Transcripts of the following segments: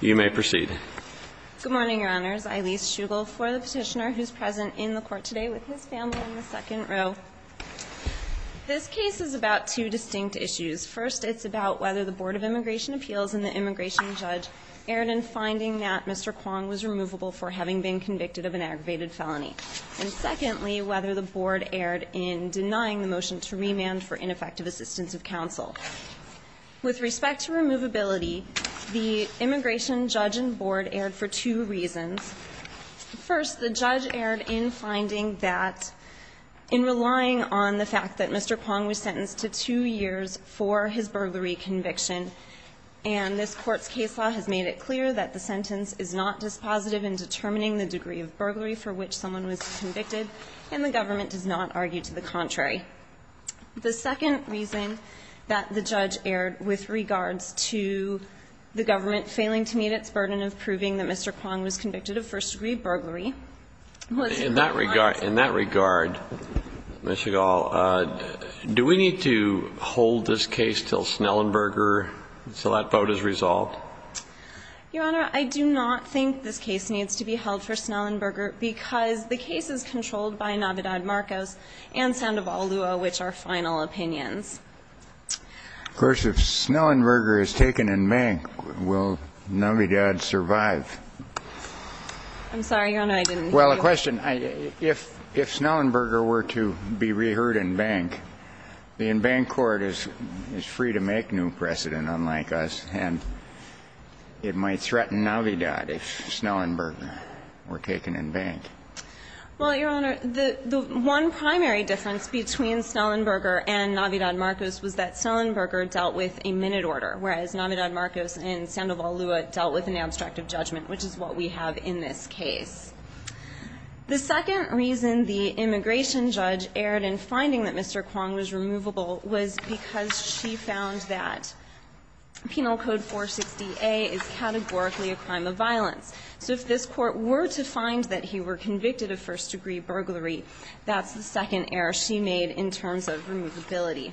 You may proceed. Good morning, Your Honors. Eilis Schugel for the petitioner who is present in the court today with his family in the second row. This case is about two distinct issues. First, it's about whether the Board of Immigration Appeals and the immigration judge erred in finding that Mr. Kwong was removable for having been convicted of an aggravated felony. And secondly, whether the board erred in denying the motion to remand for ineffective assistance of counsel. With respect to removability, the immigration judge and board erred for two reasons. First, the judge erred in finding that in relying on the fact that Mr. Kwong was sentenced to two years for his burglary conviction, and this court's case law has made it clear that the sentence is not dispositive in determining the degree of burglary for which someone was convicted, and the government does not argue to the contrary. The second reason that the judge erred with regards to the government failing to meet its burden of proving that Mr. Kwong was convicted of first-degree burglary was in that regard. In that regard, Ms. Schugel, do we need to hold this case until Snellenberger, until that vote is resolved? Your Honor, I do not think this case needs to be held for Snellenberger because the case is controlled by Navidad-Marcos and Sandoval-Lua, which are final opinions. Of course, if Snellenberger is taken in bank, will Navidad survive? I'm sorry, Your Honor, I didn't hear you. Well, a question. If Snellenberger were to be reheard in bank, the in-bank court is free to make new precedent unlike us, and it might threaten Navidad if Snellenberger were taken in bank. Well, Your Honor, the one primary difference between Snellenberger and Navidad-Marcos was that Snellenberger dealt with a minute order, whereas Navidad-Marcos and Sandoval-Lua dealt with an abstract of judgment, which is what we have in this case. The second reason the immigration judge erred in finding that Mr. Kwong was removable was because she found that Penal Code 460A is categorically a crime of violence. So if this Court were to find that he were convicted of first-degree burglary, that's the second error she made in terms of removability.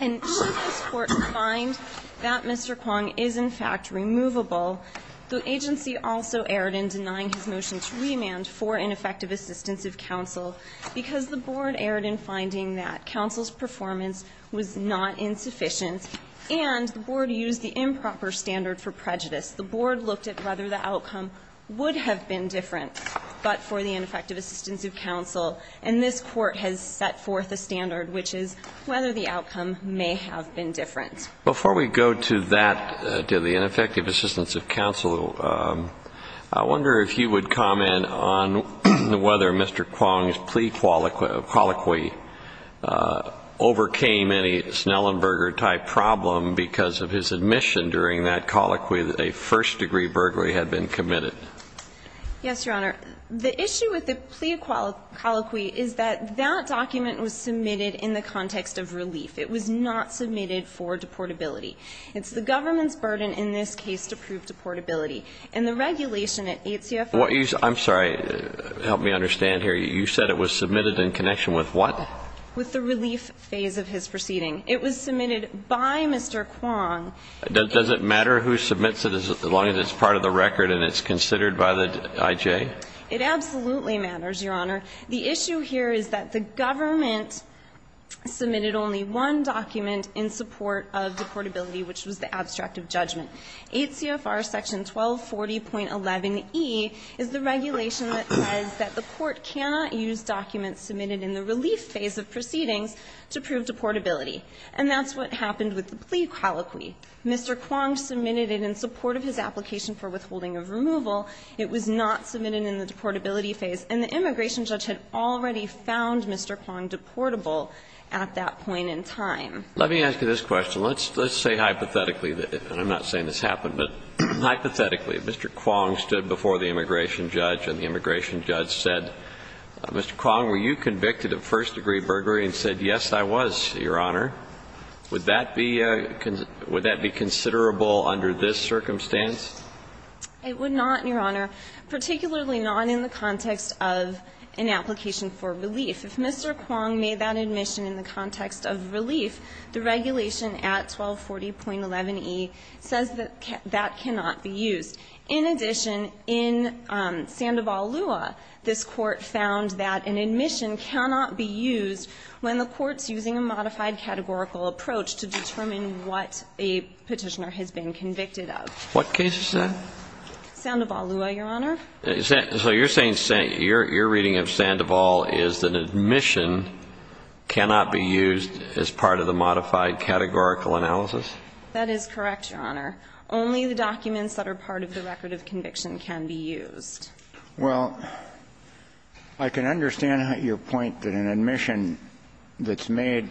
And should this Court find that Mr. Kwong is, in fact, removable, the agency also erred in denying his motion to remand for ineffective assistance of counsel because the Board erred in finding that counsel's performance was not insufficient, and the Board used the improper standard for prejudice. The Board looked at whether the outcome would have been different, but for the ineffective assistance of counsel, and this Court has set forth a standard, which is whether the outcome may have been different. Before we go to that, to the ineffective assistance of counsel, I wonder if you would comment on whether Mr. Kwong's plea colloquy overcame any Snellenberger-type problem because of his admission during that colloquy that a first-degree burglary had been committed. Yes, Your Honor. The issue with the plea colloquy is that that document was submitted in the context of relief. It was not submitted for deportability. It's the government's burden in this case to prove deportability, and the regulation at 8 CFR. I'm sorry. Help me understand here. You said it was submitted in connection with what? With the relief phase of his proceeding. It was submitted by Mr. Kwong. Does it matter who submits it as long as it's part of the record and it's considered by the IJ? It absolutely matters, Your Honor. The issue here is that the government submitted only one document in support of deportability, which was the abstract of judgment. 8 CFR section 1240.11e is the regulation that says that the court cannot use documents submitted in the relief phase of proceedings to prove deportability. And that's what happened with the plea colloquy. Mr. Kwong submitted it in support of his application for withholding of removal. It was not submitted in the deportability phase. And the immigration judge had already found Mr. Kwong deportable at that point in time. Let me ask you this question. Let's say hypothetically, and I'm not saying this happened, but hypothetically Mr. Kwong stood before the immigration judge and the immigration judge said, Mr. Kwong, would that be considerable under this circumstance? It would not, Your Honor. Particularly not in the context of an application for relief. If Mr. Kwong made that admission in the context of relief, the regulation at 1240.11e says that that cannot be used. In addition, in Sandoval-Lua, this Court found that an admission cannot be used when the Court's using a modified categorical approach to determine what a Petitioner has been convicted of. What case is that? Sandoval-Lua, Your Honor. So you're saying your reading of Sandoval is that an admission cannot be used as part of the modified categorical analysis? That is correct, Your Honor. Only the documents that are part of the record of conviction can be used. Well, I can understand your point that an admission that's made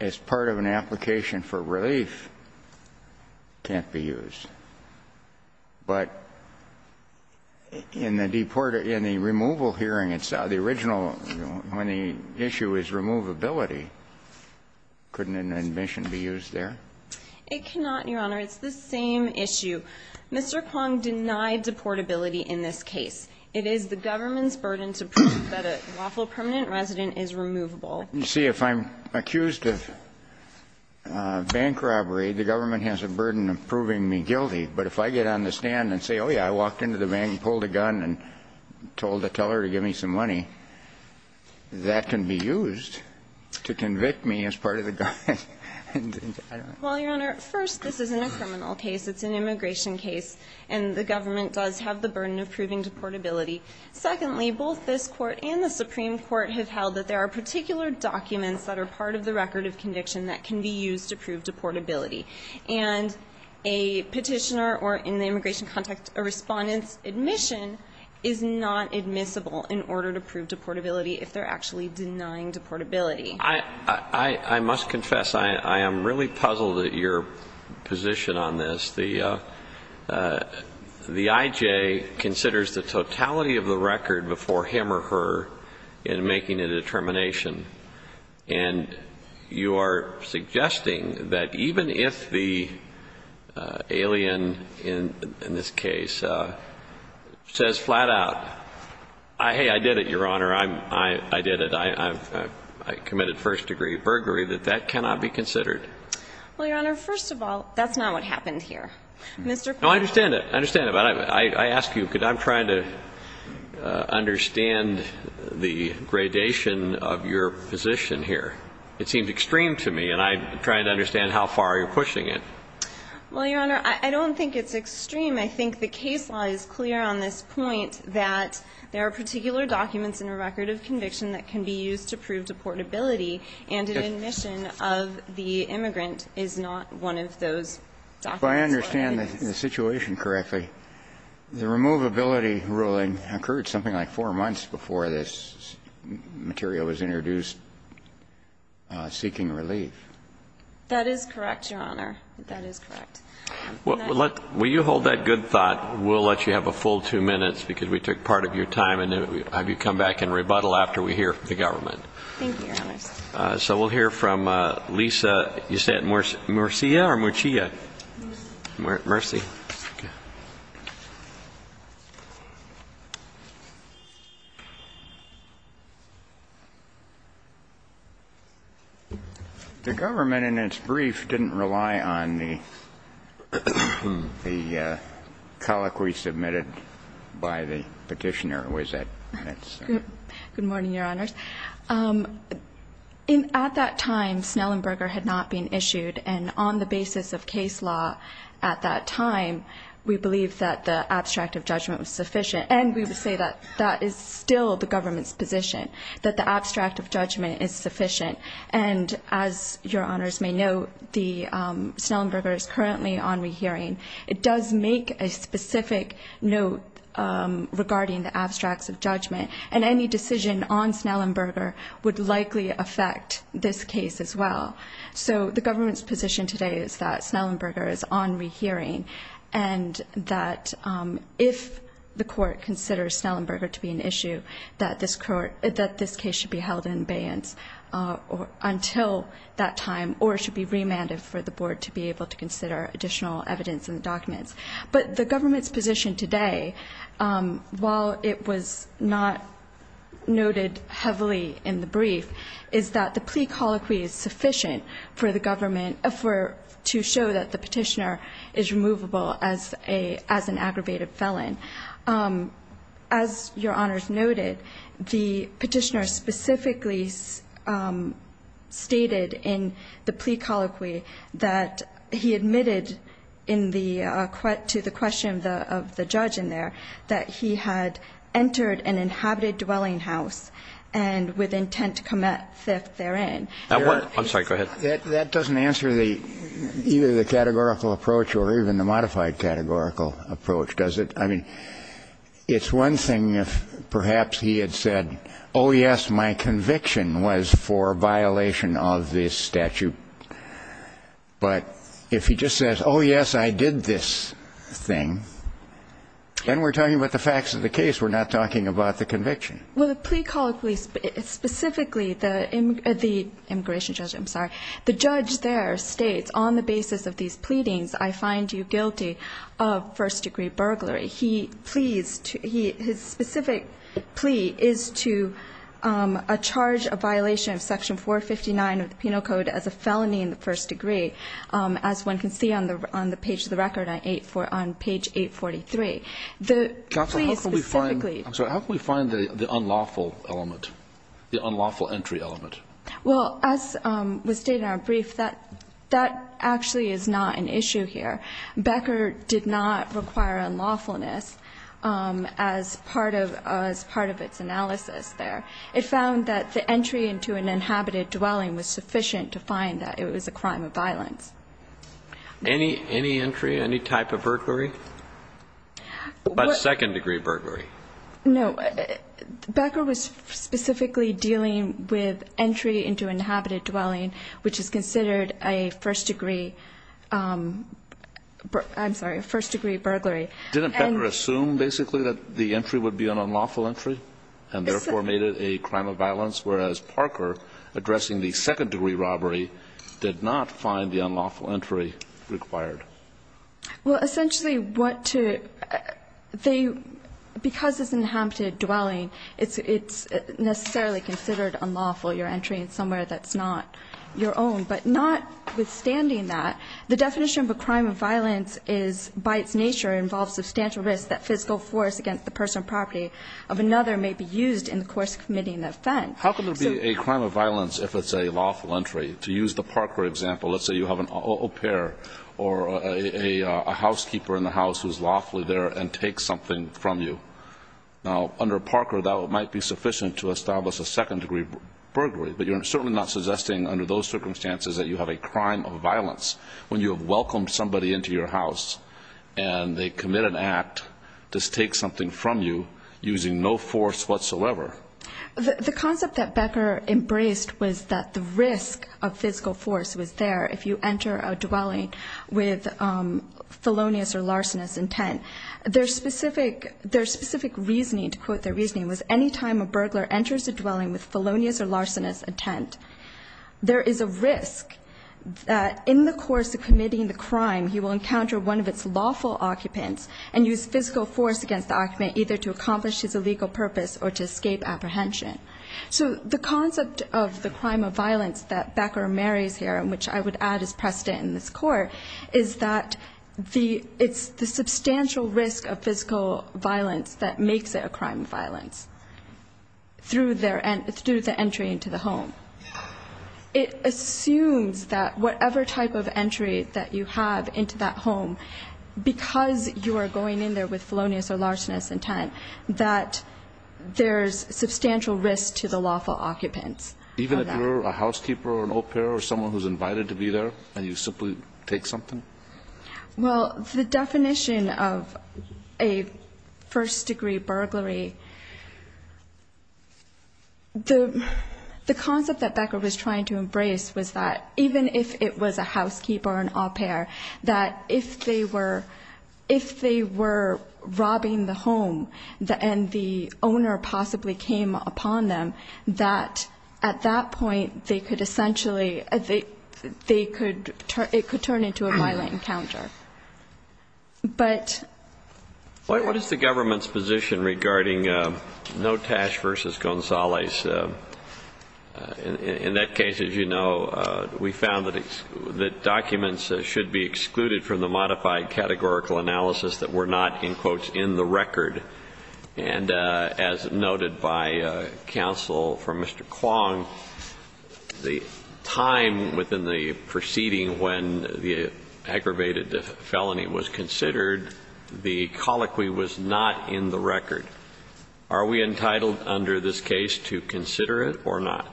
as part of an application for relief can't be used, but in the removal hearing, it's the original, when the issue is removability, couldn't an admission be used there? It cannot, Your Honor. It's the same issue. Mr. Kwong denied deportability in this case. It is the government's burden to prove that a lawful permanent resident is removable. You see, if I'm accused of bank robbery, the government has a burden of proving me guilty, but if I get on the stand and say, oh, yeah, I walked into the bank and pulled a gun and told the teller to give me some money, that can be used to convict me as part of the gun. Well, Your Honor, first, this isn't a criminal case. It's an immigration case. And the government does have the burden of proving deportability. Secondly, both this Court and the Supreme Court have held that there are particular documents that are part of the record of conviction that can be used to prove deportability. And a Petitioner or, in the immigration context, a Respondent's admission is not admissible in order to prove deportability if they're actually denying deportability. I must confess, I am really puzzled at your position on this. The I.J. considers the totality of the record before him or her in making a determination. And you are suggesting that even if the alien in this case says flat out, hey, I did it, first-degree burglary, that that cannot be considered. Well, Your Honor, first of all, that's not what happened here. Mr. Kline. No, I understand it. I understand it. But I ask you, because I'm trying to understand the gradation of your position here. It seems extreme to me, and I'm trying to understand how far you're pushing it. Well, Your Honor, I don't think it's extreme. I think the case law is clear on this point that there are particular documents in a record of conviction that can be used to prove deportability, and an admission of the immigrant is not one of those documents. If I understand the situation correctly, the removability ruling occurred something like four months before this material was introduced, seeking relief. That is correct, Your Honor. That is correct. Will you hold that good thought? We'll let you have a full two minutes, because we took part of your time, and then we'll have you come back and rebuttal after we hear from the government. Thank you, Your Honor. So we'll hear from Lisa. You said Murcia or Murcia? Murcia. Murcia. Okay. The government, in its brief, didn't rely on the colloquy submitted by the petitioner, was it? Good morning, Your Honors. At that time, Snellenberger had not been issued, and on the basis of case law at that time, we believe that the abstract of judgment was sufficient, and we would say that that is still the government's position, that the abstract of judgment is sufficient. And as Your Honors may know, Snellenberger is currently on rehearing. It does make a specific note regarding the abstracts of judgment, and any decision on Snellenberger would likely affect this case as well. So the government's position today is that Snellenberger is on rehearing, and that if the court considers Snellenberger to be an issue, that this case should be held in abeyance until that time, or it should be remanded for the board to be able to consider additional evidence and documents. But the government's position today, while it was not noted heavily in the brief, is that the plea colloquy is sufficient for the government to show that the petitioner is removable as an aggravated felon. As Your Honors noted, the petitioner specifically stated in the plea colloquy that he admitted to the question of the judge in there that he had entered an inhabited dwelling house and with intent to commit theft therein. I'm sorry, go ahead. That doesn't answer either the categorical approach or even the modified categorical approach, does it? I mean, it's one thing if perhaps he had said, oh, yes, my conviction was for violation of this statute. But if he just says, oh, yes, I did this thing, then we're talking about the facts of the case. We're not talking about the conviction. Well, the plea colloquy specifically, the immigration judge, I'm sorry, the judge there states on the basis of these pleadings, I find you guilty of first-degree burglary. His specific plea is to charge a violation of Section 459 of the Penal Code as a felony in the first degree, as one can see on the page of the record on page 843. The plea specifically Counsel, how can we find the unlawful element, the unlawful entry element? Well, as was stated in our brief, that actually is not an issue here. Becker did not require unlawfulness as part of its analysis there. It found that the entry into an inhabited dwelling was sufficient to find that it was a crime of violence. Any entry, any type of burglary? But second-degree burglary. No, Becker was specifically dealing with entry into an inhabited dwelling, which is considered a first-degree, I'm sorry, a first-degree burglary. Didn't Becker assume, basically, that the entry would be an unlawful entry, and therefore made it a crime of violence, whereas Parker, addressing the second-degree robbery, did not find the unlawful entry required? Well, essentially, what to they, because it's an inhabited dwelling, it's necessarily considered unlawful, you're entering somewhere that's not your own. But notwithstanding that, the definition of a crime of violence is, by its nature, involves substantial risk that physical force against the personal property of another may be used in the course of committing the offense. How can there be a crime of violence if it's a lawful entry? To use the Parker example, let's say you have an au pair or a housekeeper in the house who's lawfully there and takes something from you. Now, under Parker, that might be sufficient to establish a second-degree burglary, but you're certainly not suggesting, under those circumstances, that you have a crime of violence when you have welcomed somebody into your house and they commit an act to take something from you using no force whatsoever. The concept that Becker embraced was that the risk of physical force was there if you enter a dwelling with felonious or larcenous intent. Their specific reasoning, to quote their reasoning, was any time a burglar enters a dwelling with felonious or larcenous intent, there is a risk that in the course of committing the crime, he will encounter one of its lawful occupants and use physical force against the occupant, either to accomplish his illegal purpose or to escape apprehension. So the concept of the crime of violence that Becker marries here, which I would add is precedent in this court, is that it's the substantial risk of physical violence that makes it a crime of violence through the entry into the home. It assumes that whatever type of entry that you have into that home, because you are going in there with felonious or larcenous intent, that there's substantial risk to the lawful occupants. Even if you're a housekeeper or an au pair or someone who's invited to be there and you simply take something? Well, the definition of a first-degree burglary, the concept that Becker was trying to embrace was that if they were robbing the home and the owner possibly came upon them, that at that point they could essentially, it could turn into a violent encounter. What is the government's position regarding Notash v. Gonzalez? In that case, as you know, we found that documents should be excluded from the modified categorical analysis that were not, in quotes, in the record. And as noted by counsel from Mr. Kwong, the time within the proceeding when the aggravated felony was considered, the colloquy was not in the record. Are we entitled under this case to consider it or not?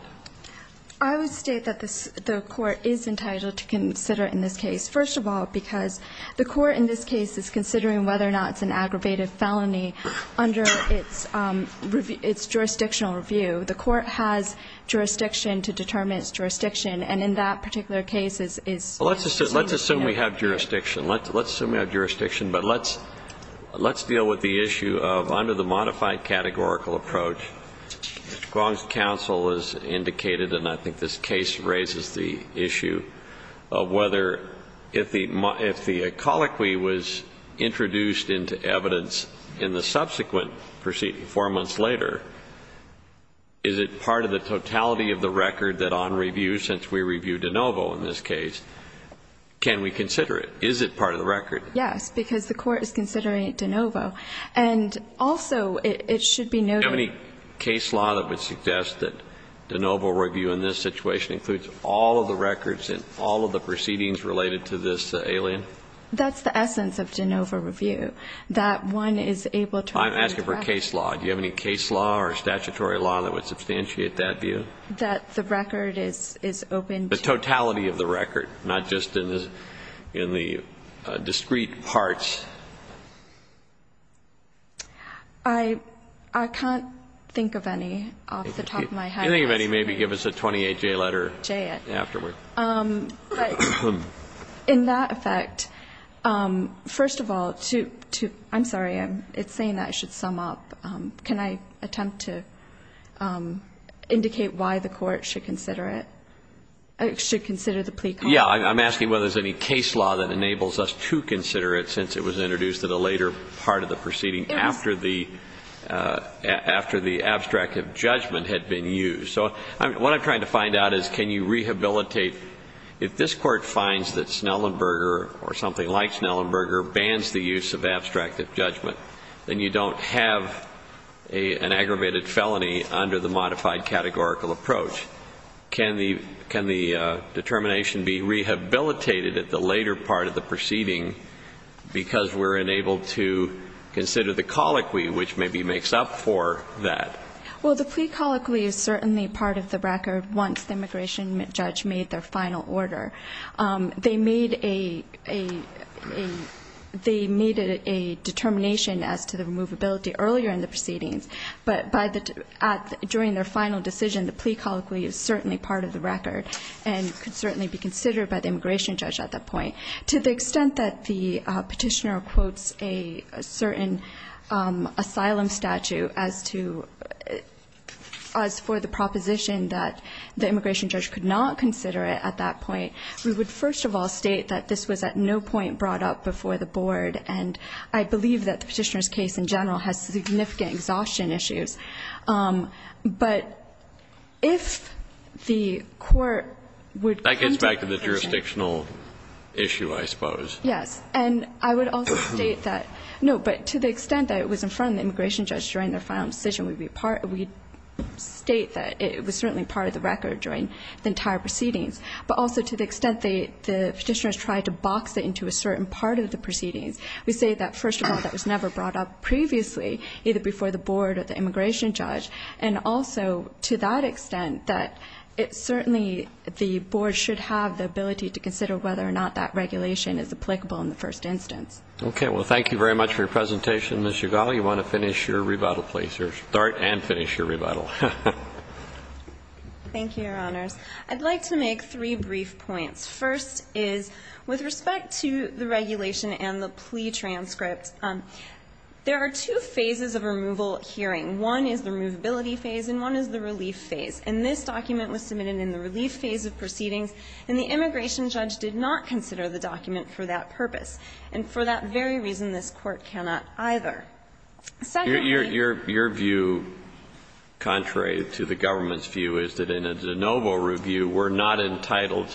I would state that the court is entitled to consider it in this case. First of all, because the court in this case is considering whether or not it's an aggravated felony under its jurisdictional review. The court has jurisdiction to determine its jurisdiction, and in that particular case it's considered. Well, let's assume we have jurisdiction. Let's assume we have jurisdiction, but let's deal with the issue of under the modified categorical approach. Mr. Kwong's counsel has indicated, and I think this case raises the issue of whether, if the colloquy was introduced into evidence in the subsequent proceeding, four months later, is it part of the totality of the record that on review, since we reviewed de novo in this case, can we consider it? Is it part of the record? Yes, because the court is considering de novo. And also it should be noted. Do you have any case law that would suggest that de novo review in this situation includes all of the records in all of the proceedings related to this alien? That's the essence of de novo review, that one is able to. I'm asking for case law. Do you have any case law or statutory law that would substantiate that view? That the record is open. The totality of the record, not just in the discrete parts. I can't think of any off the top of my head. If you think of any, maybe give us a 28-J letter afterward. In that effect, first of all, I'm sorry, it's saying that I should sum up. Can I attempt to indicate why the court should consider it, should consider the plea clause? Yeah, I'm asking whether there's any case law that enables us to consider it since it was introduced in a later part of the proceeding after the abstract of judgment had been used. So what I'm trying to find out is can you rehabilitate, if this court finds that Snellenberger or something like Snellenberger bans the use of abstract of judgment, then you don't have an aggravated felony under the modified categorical approach. Can the determination be rehabilitated at the later part of the proceeding because we're unable to consider the colloquy which maybe makes up for that? Well, the plea colloquy is certainly part of the record once the immigration judge made their final order. They made a determination as to the removability earlier in the proceedings, but during their final decision, the plea colloquy is certainly part of the record and could certainly be considered by the immigration judge at that point. To the extent that the petitioner quotes a certain asylum statute as to, as for the proposition that the immigration judge could not consider it at that point, we would first of all state that this was at no point brought up before the board, and I believe that the petitioner's case in general has significant exhaustion issues. But if the court would come to the conclusion. That gets back to the jurisdictional issue, I suppose. Yes. And I would also state that, no, but to the extent that it was in front of the immigration judge during their final decision, we'd state that it was certainly part of the record during the entire proceedings, but also to the extent the petitioner has tried to box it into a certain part of the proceedings. We say that, first of all, that was never brought up previously, either before the board or the immigration judge, and also to that extent that it's certainly the board should have the ability to consider whether or not that regulation is applicable in the first instance. Okay. Well, thank you very much for your presentation, Ms. Ugal. You want to finish your rebuttal, please, or start and finish your rebuttal. Thank you, Your Honors. I'd like to make three brief points. First is, with respect to the regulation and the plea transcript, there are two phases of removal hearing. One is the removability phase, and one is the relief phase. And this document was submitted in the relief phase of proceedings, and the immigration judge did not consider the document for that purpose. And for that very reason, this Court cannot either. Your view, contrary to the government's view, is that in a de novo review, we're not entitled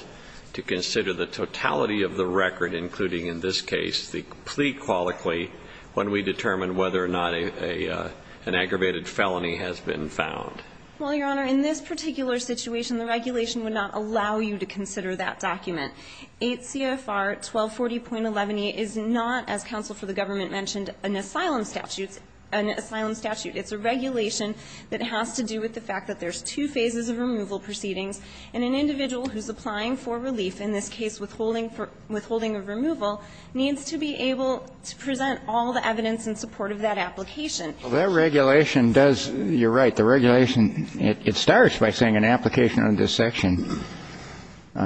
to consider the totality of the record, including in this case the plea colloquy, when we determine whether or not an aggravated felony has been found. Well, Your Honor, in this particular situation, the regulation would not allow you to consider that document. 8 CFR 1240.11e is not, as counsel for the government mentioned, an asylum statute. It's a regulation that has to do with the fact that there's two phases of removal proceedings, and an individual who's applying for relief, in this case withholding of removal, needs to be able to present all the evidence in support of that application. Well, that regulation does you're right. The regulation, it starts by saying, an application under this section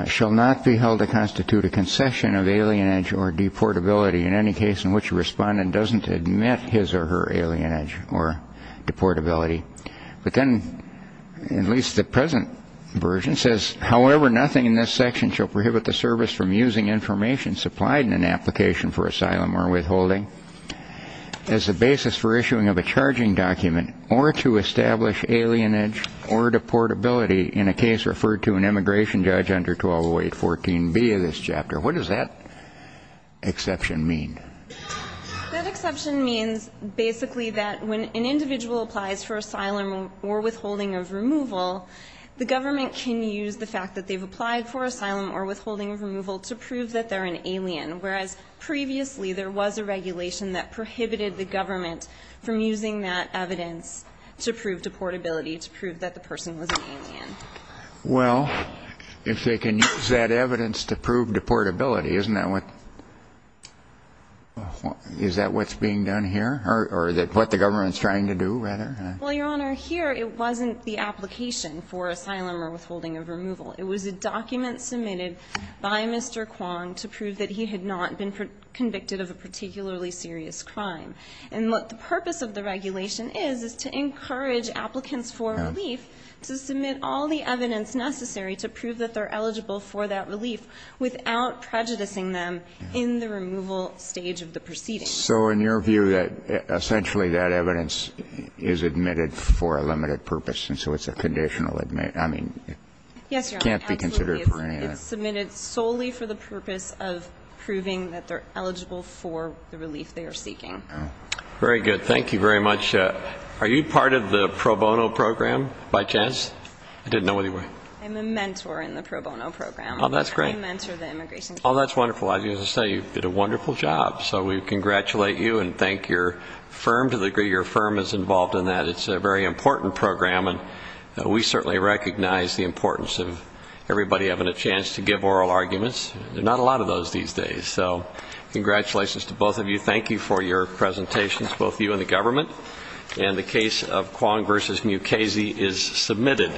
shall not be held to constitute a concession of alienage or deportability. In any case in which a respondent doesn't admit his or her alienage or deportability. But then, at least the present version says, however nothing in this section shall prohibit the service from using information supplied in an application for asylum or withholding as a basis for issuing of a charging document or to establish alienage or deportability in a case referred to an immigration judge under 1208.14b of this chapter. What does that exception mean? That exception means, basically, that when an individual applies for asylum or withholding of removal, the government can use the fact that they've applied for asylum or withholding of removal to prove that they're an alien. Whereas, previously, there was a regulation that prohibited the government from using that evidence to prove deportability, to prove that the person was an alien. Well, if they can use that evidence to prove deportability, isn't that what Is that what's being done here? Or what the government's trying to do, rather? Well, Your Honor, here it wasn't the application for asylum or withholding of removal. It was a document submitted by Mr. Kwong to prove that he had not been convicted of a particularly serious crime. And what the purpose of the regulation is, is to encourage applicants for relief to submit all the evidence necessary to prove that they're eligible for that relief without prejudicing them in the removal stage of the proceedings. So in your view, essentially that evidence is admitted for a limited purpose, and so it's a conditional admission. I mean, it can't be considered perennial. Yes, Your Honor. It's submitted solely for the purpose of proving that they're eligible for the relief they are seeking. Very good. Thank you very much. Are you part of the pro bono program, by chance? I didn't know what you were. I'm a mentor in the pro bono program. Oh, that's great. I mentor the immigration committee. Oh, that's wonderful. As I say, you did a wonderful job. So we congratulate you and thank your firm to the degree your firm is involved in that. It's a very important program, and we certainly recognize the importance of everybody having a chance to give oral arguments. There are not a lot of those these days. So congratulations to both of you. Thank you for your presentations, both you and the government. And the case of Kwon v. Mukasey is submitted.